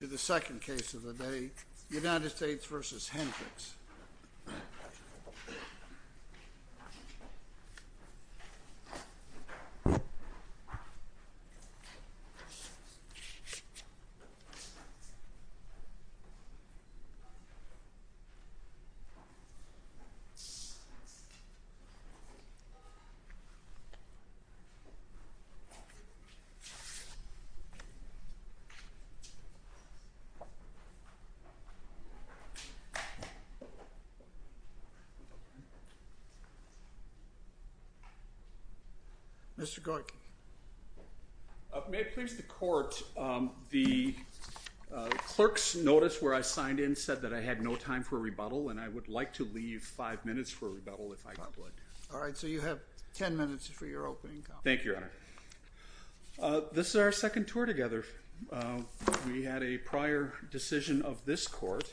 to the second case of the day, United States v. Henricks. Mr. Gorky. May it please the court, the clerk's notice where I signed in said that I had no time for a rebuttal and I would like to leave five minutes for a rebuttal if I could. All right, so you have ten minutes for your opening comment. Thank you, Your Honor. This is our second tour together. We had a prior decision of this court.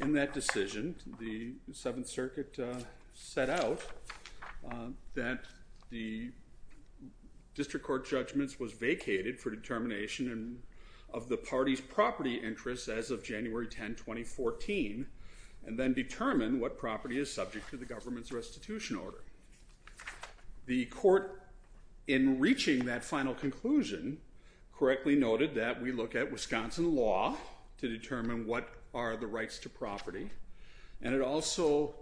In that decision, the Seventh Circuit set out that the district court judgments was vacated for determination of the party's property interests as of January 10, 2014, and then determine what property is subject to the government's restitution order. The court, in reaching that final conclusion, correctly noted that we look at Wisconsin law to determine what are the rights to property, and it also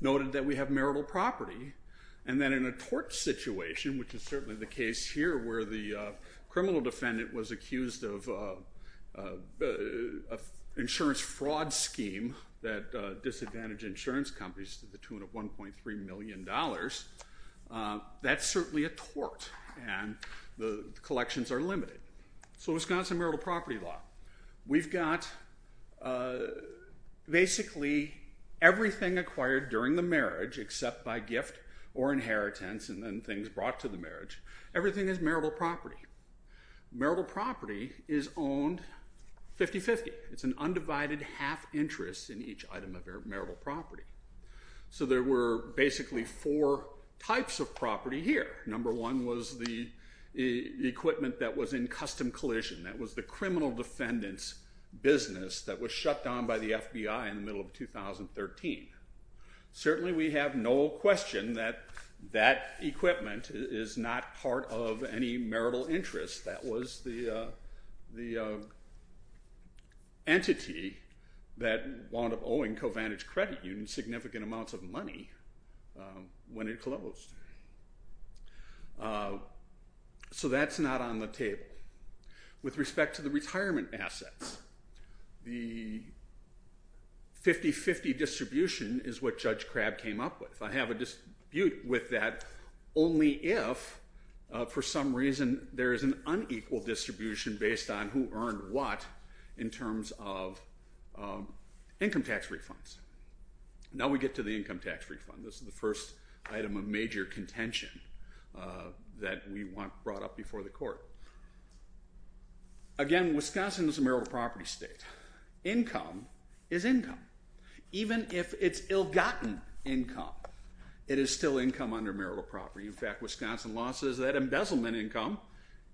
noted that we have marital property. And then in a tort situation, which is certainly the case here where the criminal defendant was accused of an insurance fraud scheme that disadvantaged insurance companies to the tune of $1.3 million, that's certainly a tort, and the collections are limited. So Wisconsin marital property law. We've got basically everything acquired during the marriage except by gift or inheritance and then things brought to the marriage. Everything is marital property. Marital property is owned 50-50. It's an undivided half interest in each item of marital property. So there were basically four types of property here. Number one was the equipment that was in custom collision. That was the criminal defendant's business that was shut down by the FBI in the middle of 2013. Certainly we have no question that that equipment is not part of any marital interest. That was the entity that wound up owing CoVantage Credit Union significant amounts of money when it closed. So that's not on the table. With respect to the retirement assets, the 50-50 distribution is what Judge Crabb came up with. I have a dispute with that only if, for some reason, there is an unequal distribution based on who earned what in terms of income tax refunds. Now we get to the income tax refund. This is the first item of major contention that we brought up before the court. Again, Wisconsin is a marital property state. Income is income. Even if it's ill-gotten income, it is still income under marital property. In fact, Wisconsin law says that embezzlement income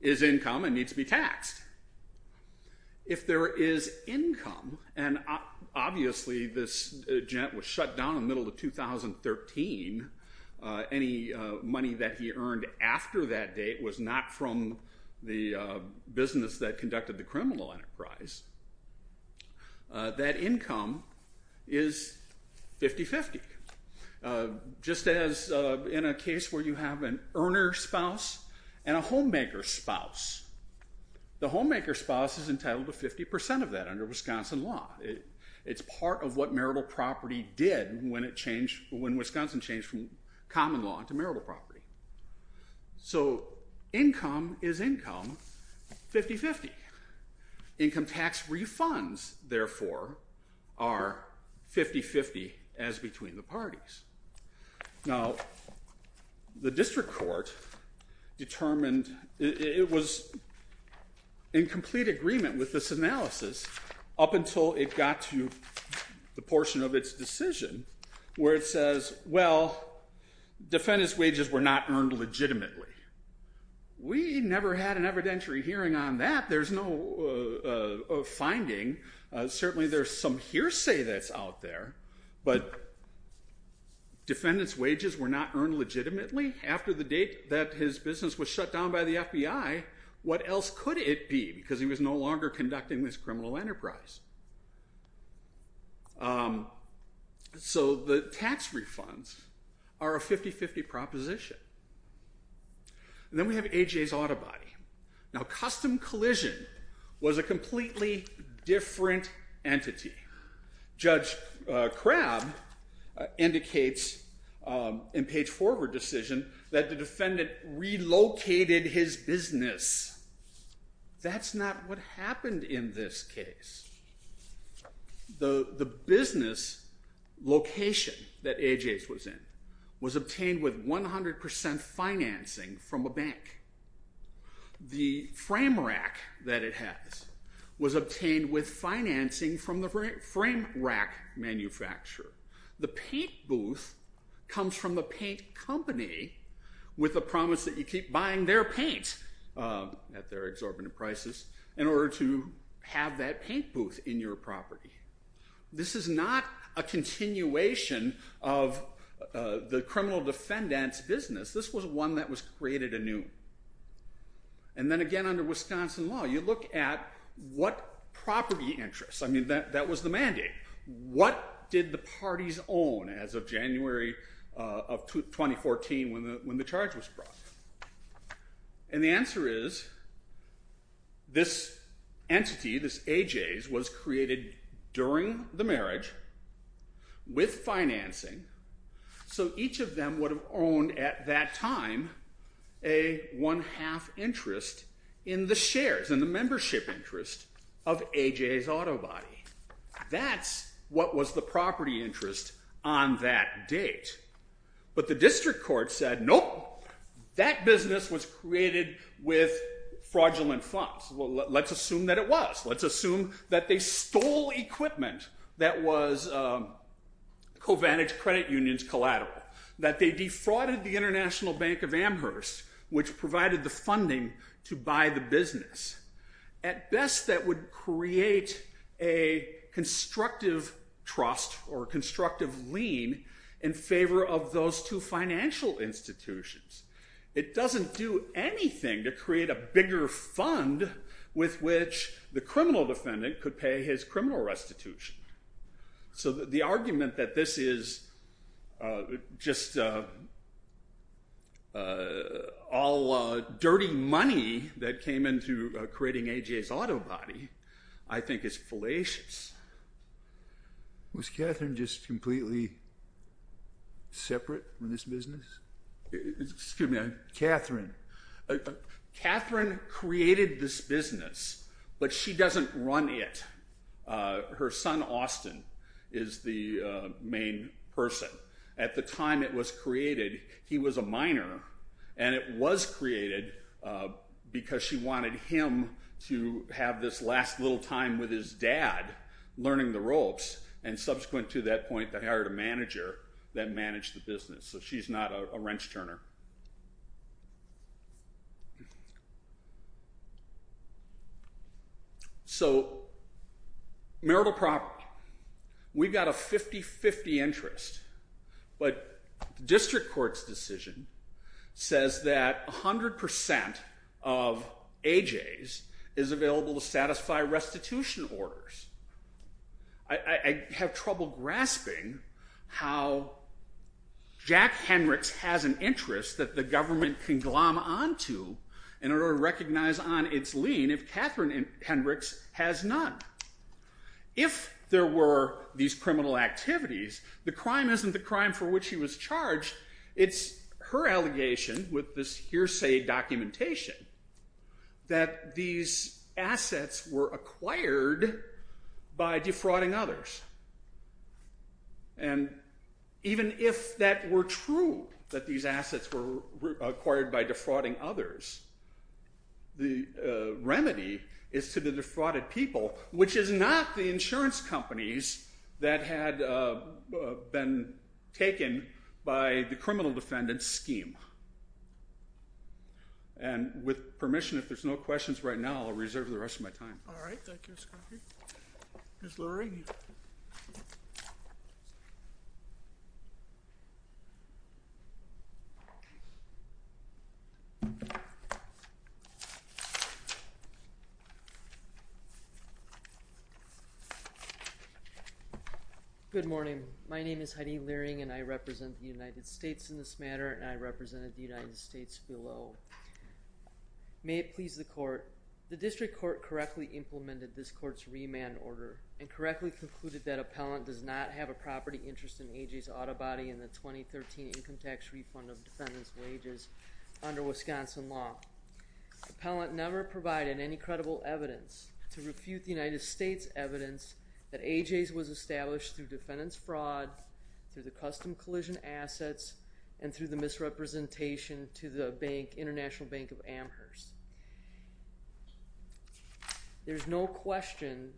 is income and needs to be taxed. If there is income, and obviously this jet was shut down in the middle of 2013. Any money that he earned after that date was not from the business that conducted the criminal enterprise. That income is 50-50. Just as in a case where you have an earner's spouse and a homemaker's spouse. The homemaker's spouse is entitled to 50% of that under Wisconsin law. It's part of what marital property did when Wisconsin changed from common law to marital property. So income is income 50-50. Income tax refunds, therefore, are 50-50 as between the parties. Now, the district court determined it was in complete agreement with this analysis up until it got to the portion of its decision where it says, well, defendant's wages were not earned legitimately. We never had an evidentiary hearing on that. There's no finding. Certainly there's some hearsay that's out there, but defendant's wages were not earned legitimately. After the date that his business was shut down by the FBI, what else could it be? Because he was no longer conducting this criminal enterprise. So the tax refunds are a 50-50 proposition. Then we have A.J.'s autobody. Now, custom collision was a completely different entity. Judge Crabb indicates in page forward decision that the defendant relocated his business. That's not what happened in this case. The business location that A.J.'s was in was obtained with 100% financing from a bank. The frame rack that it has was obtained with financing from the frame rack manufacturer. The paint booth comes from the paint company with the promise that you keep buying their paint at their exorbitant prices in order to have that paint booth in your property. This is not a continuation of the criminal defendant's business. This was one that was created anew. And then again under Wisconsin law, you look at what property interests. I mean, that was the mandate. What did the parties own as of January of 2014 when the charge was brought? And the answer is this entity, this A.J.'s, was created during the marriage with financing, so each of them would have owned at that time a one-half interest in the shares, in the membership interest of A.J.'s autobody. That's what was the property interest on that date. But the district court said, nope, that business was created with fraudulent funds. Well, let's assume that it was. Let's assume that they stole equipment that was CoVantage Credit Union's collateral, that they defrauded the International Bank of Amherst, which provided the funding to buy the business. At best, that would create a constructive trust or constructive lien in favor of those two financial institutions. It doesn't do anything to create a bigger fund with which the criminal defendant could pay his criminal restitution. So the argument that this is just all dirty money that came into creating A.J.'s autobody I think is fallacious. Was Catherine just completely separate from this business? Excuse me, Catherine. Catherine created this business, but she doesn't run it. Her son Austin is the main person. At the time it was created, he was a minor, and it was created because she wanted him to have this last little time with his dad learning the ropes, and subsequent to that point they hired a manager that managed the business. So she's not a wrench turner. So marital property, we've got a 50-50 interest. But the district court's decision says that 100% of A.J.'s is available to satisfy restitution orders. I have trouble grasping how Jack Hendricks has an interest that the government can glom onto in order to recognize on its lien if Catherine Hendricks has none. If there were these criminal activities, the crime isn't the crime for which he was charged. It's her allegation with this hearsay documentation that these assets were acquired by defrauding others. And even if that were true, that these assets were acquired by defrauding others, the remedy is to the defrauded people, which is not the insurance companies that had been taken by the criminal defendant's scheme. And with permission, if there's no questions right now, I'll reserve the rest of my time. All right. Thank you, Scottie. Ms. Leering. Good morning. My name is Heidi Leering, and I represent the United States in this matter, and I represented the United States below. May it please the court, the district court correctly implemented this court's remand order and correctly concluded that appellant does not have a property interest in A.J.'s auto body in the 2013 income tax refund of defendant's wages under Wisconsin law. Appellant never provided any credible evidence to refute the United States' evidence that A.J.'s was established through defendant's fraud, through the custom collision assets, and through the misrepresentation to the bank, International Bank of Amherst. There's no question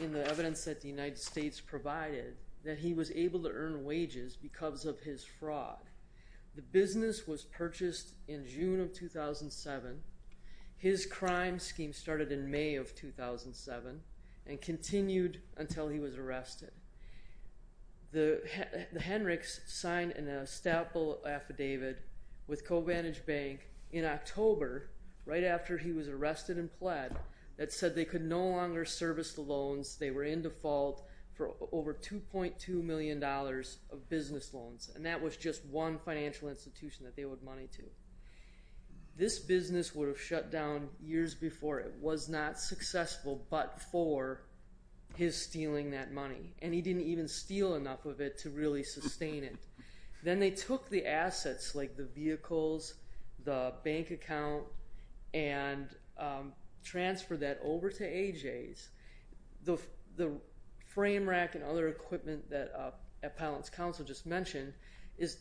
in the evidence that the United States provided that he was able to earn wages because of his fraud. The business was purchased in June of 2007. His crime scheme started in May of 2007 and continued until he was arrested. The Henricks signed an estoppel affidavit with CoVantage Bank in October, right after he was arrested and pled, that said they could no longer service the loans. They were in default for over $2.2 million of business loans, and that was just one financial institution that they owed money to. This business would have shut down years before. It was not successful but for his stealing that money, and he didn't even steal enough of it to really sustain it. Then they took the assets like the vehicles, the bank account, and transferred that over to A.J.'s. The frame rack and other equipment that Appellant's counsel just mentioned,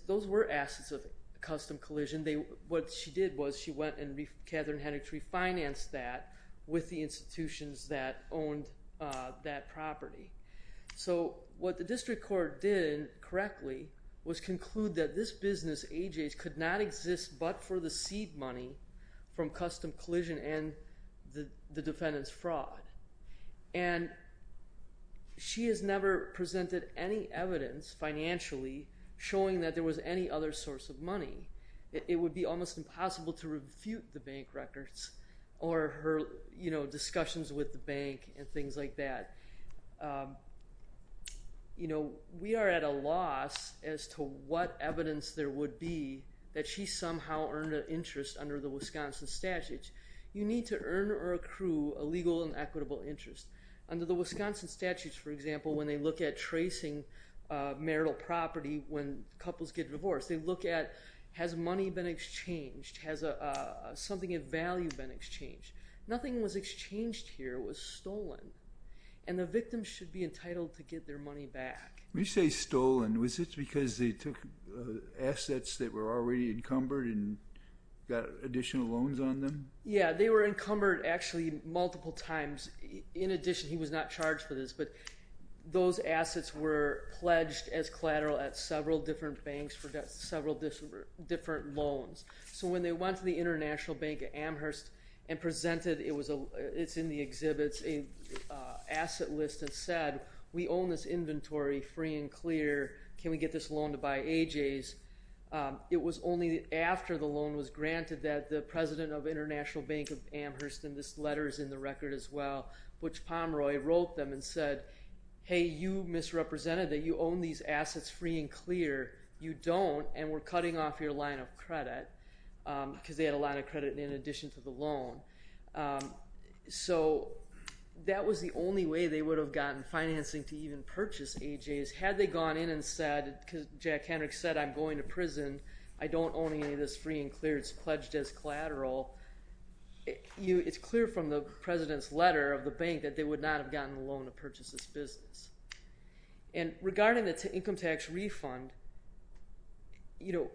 those were assets of custom collision. What she did was she went and Catherine Henricks refinanced that with the institutions that owned that property. What the district court did correctly was conclude that this business, A.J.'s, could not exist but for the seed money from custom collision and the defendant's fraud. She has never presented any evidence financially showing that there was any other source of money. It would be almost impossible to refute the bank records or her discussions with the bank and things like that. We are at a loss as to what evidence there would be that she somehow earned an interest under the Wisconsin statutes. You need to earn or accrue a legal and equitable interest. Under the Wisconsin statutes, for example, when they look at tracing marital property when couples get divorced, they look at has money been exchanged, has something of value been exchanged. Nothing was exchanged here. It was stolen, and the victim should be entitled to get their money back. When you say stolen, was it because they took assets that were already encumbered and got additional loans on them? Yes, they were encumbered actually multiple times. In addition, he was not charged for this, but those assets were pledged as collateral at several different banks for several different loans. So when they went to the International Bank at Amherst and presented, it's in the exhibits, an asset list that said, we own this inventory free and clear. Can we get this loan to buy AJ's? It was only after the loan was granted that the president of International Bank of Amherst, and this letter is in the record as well, Butch Pomeroy wrote them and said, hey, you misrepresented that you own these assets free and clear. You don't, and we're cutting off your line of credit because they had a line of credit in addition to the loan. So that was the only way they would have gotten financing to even purchase AJ's. Had they gone in and said, because Jack Hendricks said, I'm going to prison. I don't own any of this free and clear. It's pledged as collateral. It's clear from the president's letter of the bank that they would not have gotten the loan to purchase this business. And regarding the income tax refund, the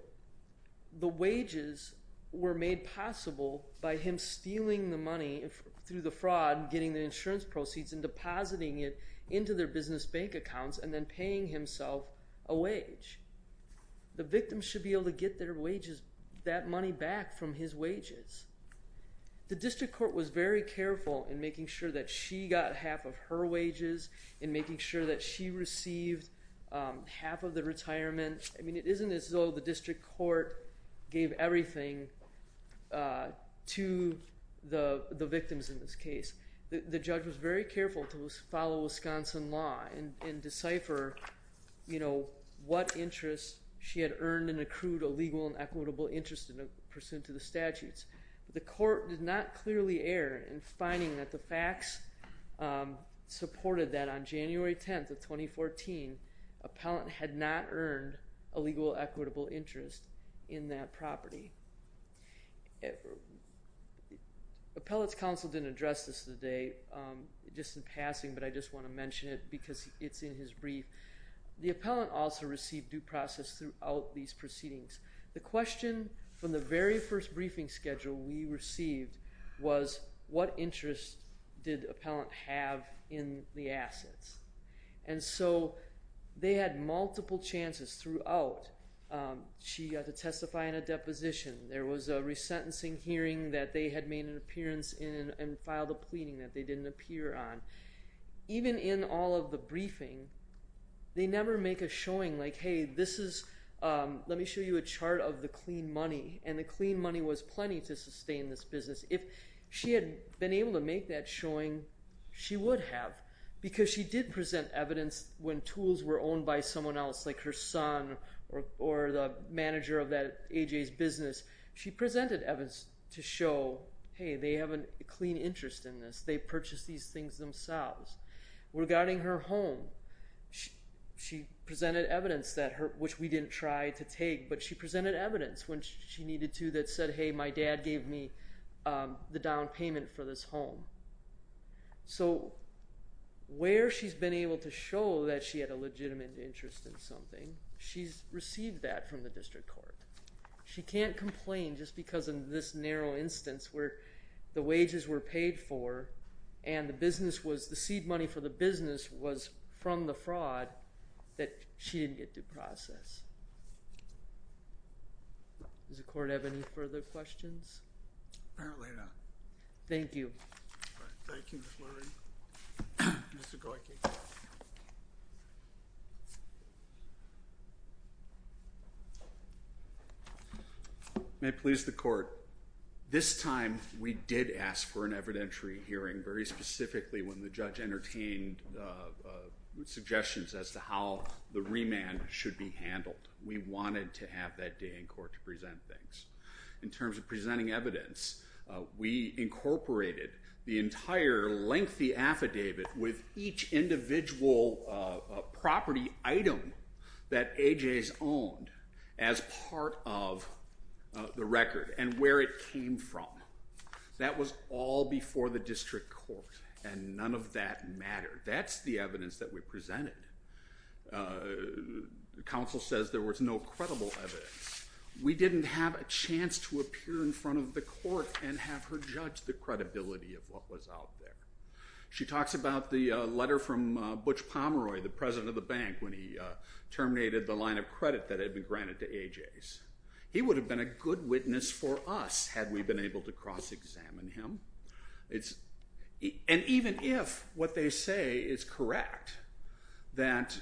wages were made possible by him stealing the money through the fraud and getting the insurance proceeds and depositing it into their business bank accounts and then paying himself a wage. The victim should be able to get their wages, that money back from his wages. The district court was very careful in making sure that she got half of her wages and making sure that she received half of the retirement. I mean, it isn't as though the district court gave everything to the victims in this case. The judge was very careful to follow Wisconsin law and decipher what interest she had earned and accrued a legal and equitable interest in pursuant to the statutes. But the court did not clearly err in finding that the facts supported that on January 10th of 2014, appellant had not earned a legal equitable interest in that property. Appellant's counsel didn't address this today, just in passing, but I just want to mention it because it's in his brief. The appellant also received due process throughout these proceedings. The question from the very first briefing schedule we received was, what interest did appellant have in the assets? And so they had multiple chances throughout. She got to testify in a deposition. There was a resentencing hearing that they had made an appearance in and filed a pleading that they didn't appear on. Even in all of the briefing, they never make a showing like, hey, let me show you a chart of the clean money, and the clean money was plenty to sustain this business. If she had been able to make that showing, she would have, because she did present evidence when tools were owned by someone else, like her son or the manager of that A.J.'s business. She presented evidence to show, hey, they have a clean interest in this. They purchased these things themselves. Regarding her home, she presented evidence, which we didn't try to take, but she presented evidence when she needed to that said, hey, my dad gave me the down payment for this home. So where she's been able to show that she had a legitimate interest in something, she's received that from the district court. She can't complain just because of this narrow instance where the wages were paid for and the seed money for the business was from the fraud that she didn't get to process. Does the court have any further questions? Apparently not. Thank you. Thank you, Ms. Lurie. Mr. Goyke. May it please the court, this time we did ask for an evidentiary hearing very specifically when the judge entertained suggestions as to how the remand should be handled. We wanted to have that day in court to present things. In terms of presenting evidence, we incorporated the entire lengthy affidavit with each individual property item that A.J.'s owned as part of the record and where it came from. That was all before the district court, and none of that mattered. That's the evidence that we presented. Counsel says there was no credible evidence. We didn't have a chance to appear in front of the court and have her judge the credibility of what was out there. She talks about the letter from Butch Pomeroy, the president of the bank, when he terminated the line of credit that had been granted to A.J.'s. He would have been a good witness for us had we been able to cross-examine him. And even if what they say is correct, that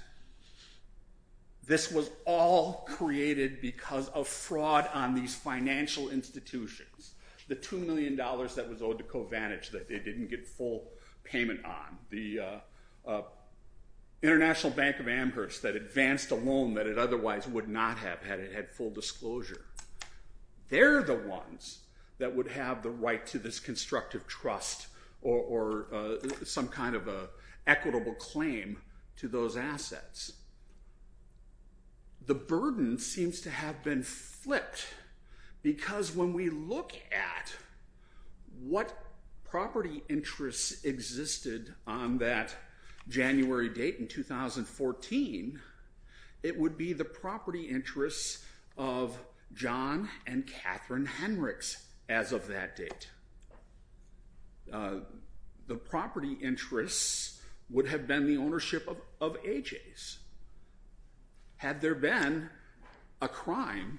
this was all created because of fraud on these financial institutions, the $2 million that was owed to CoVantage that they didn't get full payment on, the International Bank of Amherst that advanced a loan that it otherwise would not have had it had full disclosure, they're the ones that would have the right to this constructive trust or some kind of an equitable claim to those assets. The burden seems to have been flipped because when we look at what January date in 2014, it would be the property interests of John and Catherine Henrichs as of that date. The property interests would have been the ownership of A.J.'s. Had there been a crime,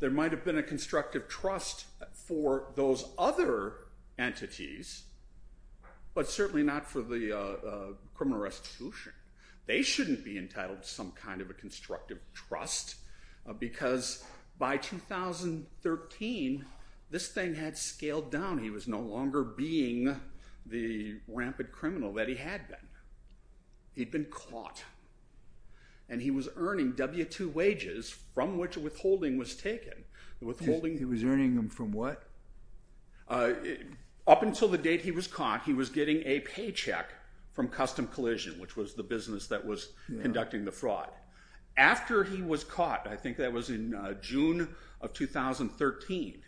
there might have been a constructive trust for those other entities, but certainly not for the criminal restitution. They shouldn't be entitled to some kind of a constructive trust because by 2013, this thing had scaled down. He was no longer being the rampant criminal that he had been. He'd been caught. And he was earning W-2 wages from which a withholding was taken. He was earning them from what? Up until the date he was caught, he was getting a paycheck from Custom Collision, which was the business that was conducting the fraud. After he was caught, I think that was in June of 2013,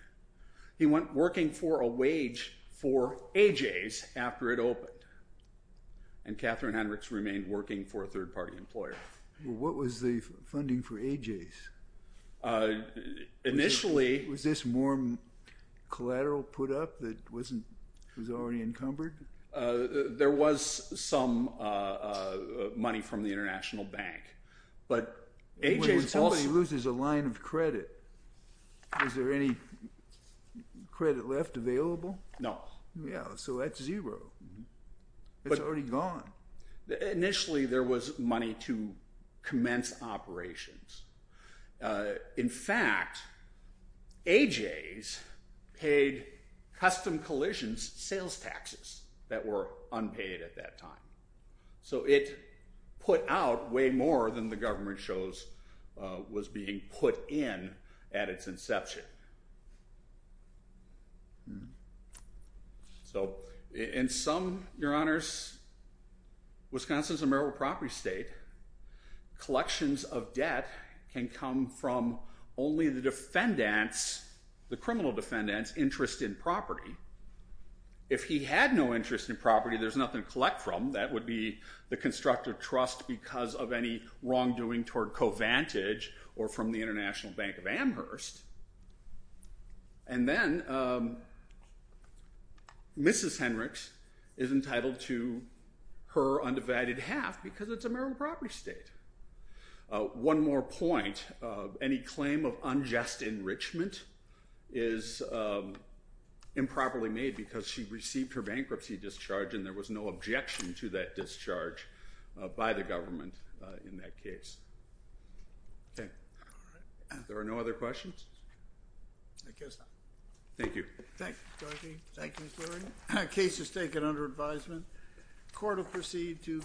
he went working for a wage for A.J.'s after it opened, and Catherine Henrichs remained working for a third-party employer. What was the funding for A.J.'s? Initially— Was this more collateral put up that was already encumbered? There was some money from the International Bank, but A.J.'s also— When somebody loses a line of credit, is there any credit left available? No. Yeah, so that's zero. It's already gone. Initially, there was money to commence operations. In fact, A.J.'s paid Custom Collision's sales taxes that were unpaid at that time, so it put out way more than the government shows was being put in at its inception. In some, Your Honors, Wisconsin's a merit property state. Collections of debt can come from only the defendant's, the criminal defendant's, interest in property. If he had no interest in property, there's nothing to collect from. That would be the constructive trust because of any wrongdoing toward Covantage or from the International Bank of Amherst. And then Mrs. Henrichs is entitled to her undivided half because it's a merit property state. One more point, any claim of unjust enrichment is improperly made because she received her bankruptcy discharge and there was no objection to that discharge by the government in that case. Okay. All right. If there are no other questions? I guess not. Thank you. Thank you, Dorothy. Thank you, Ms. Lurie. Case is taken under advisement. Court will proceed to vote.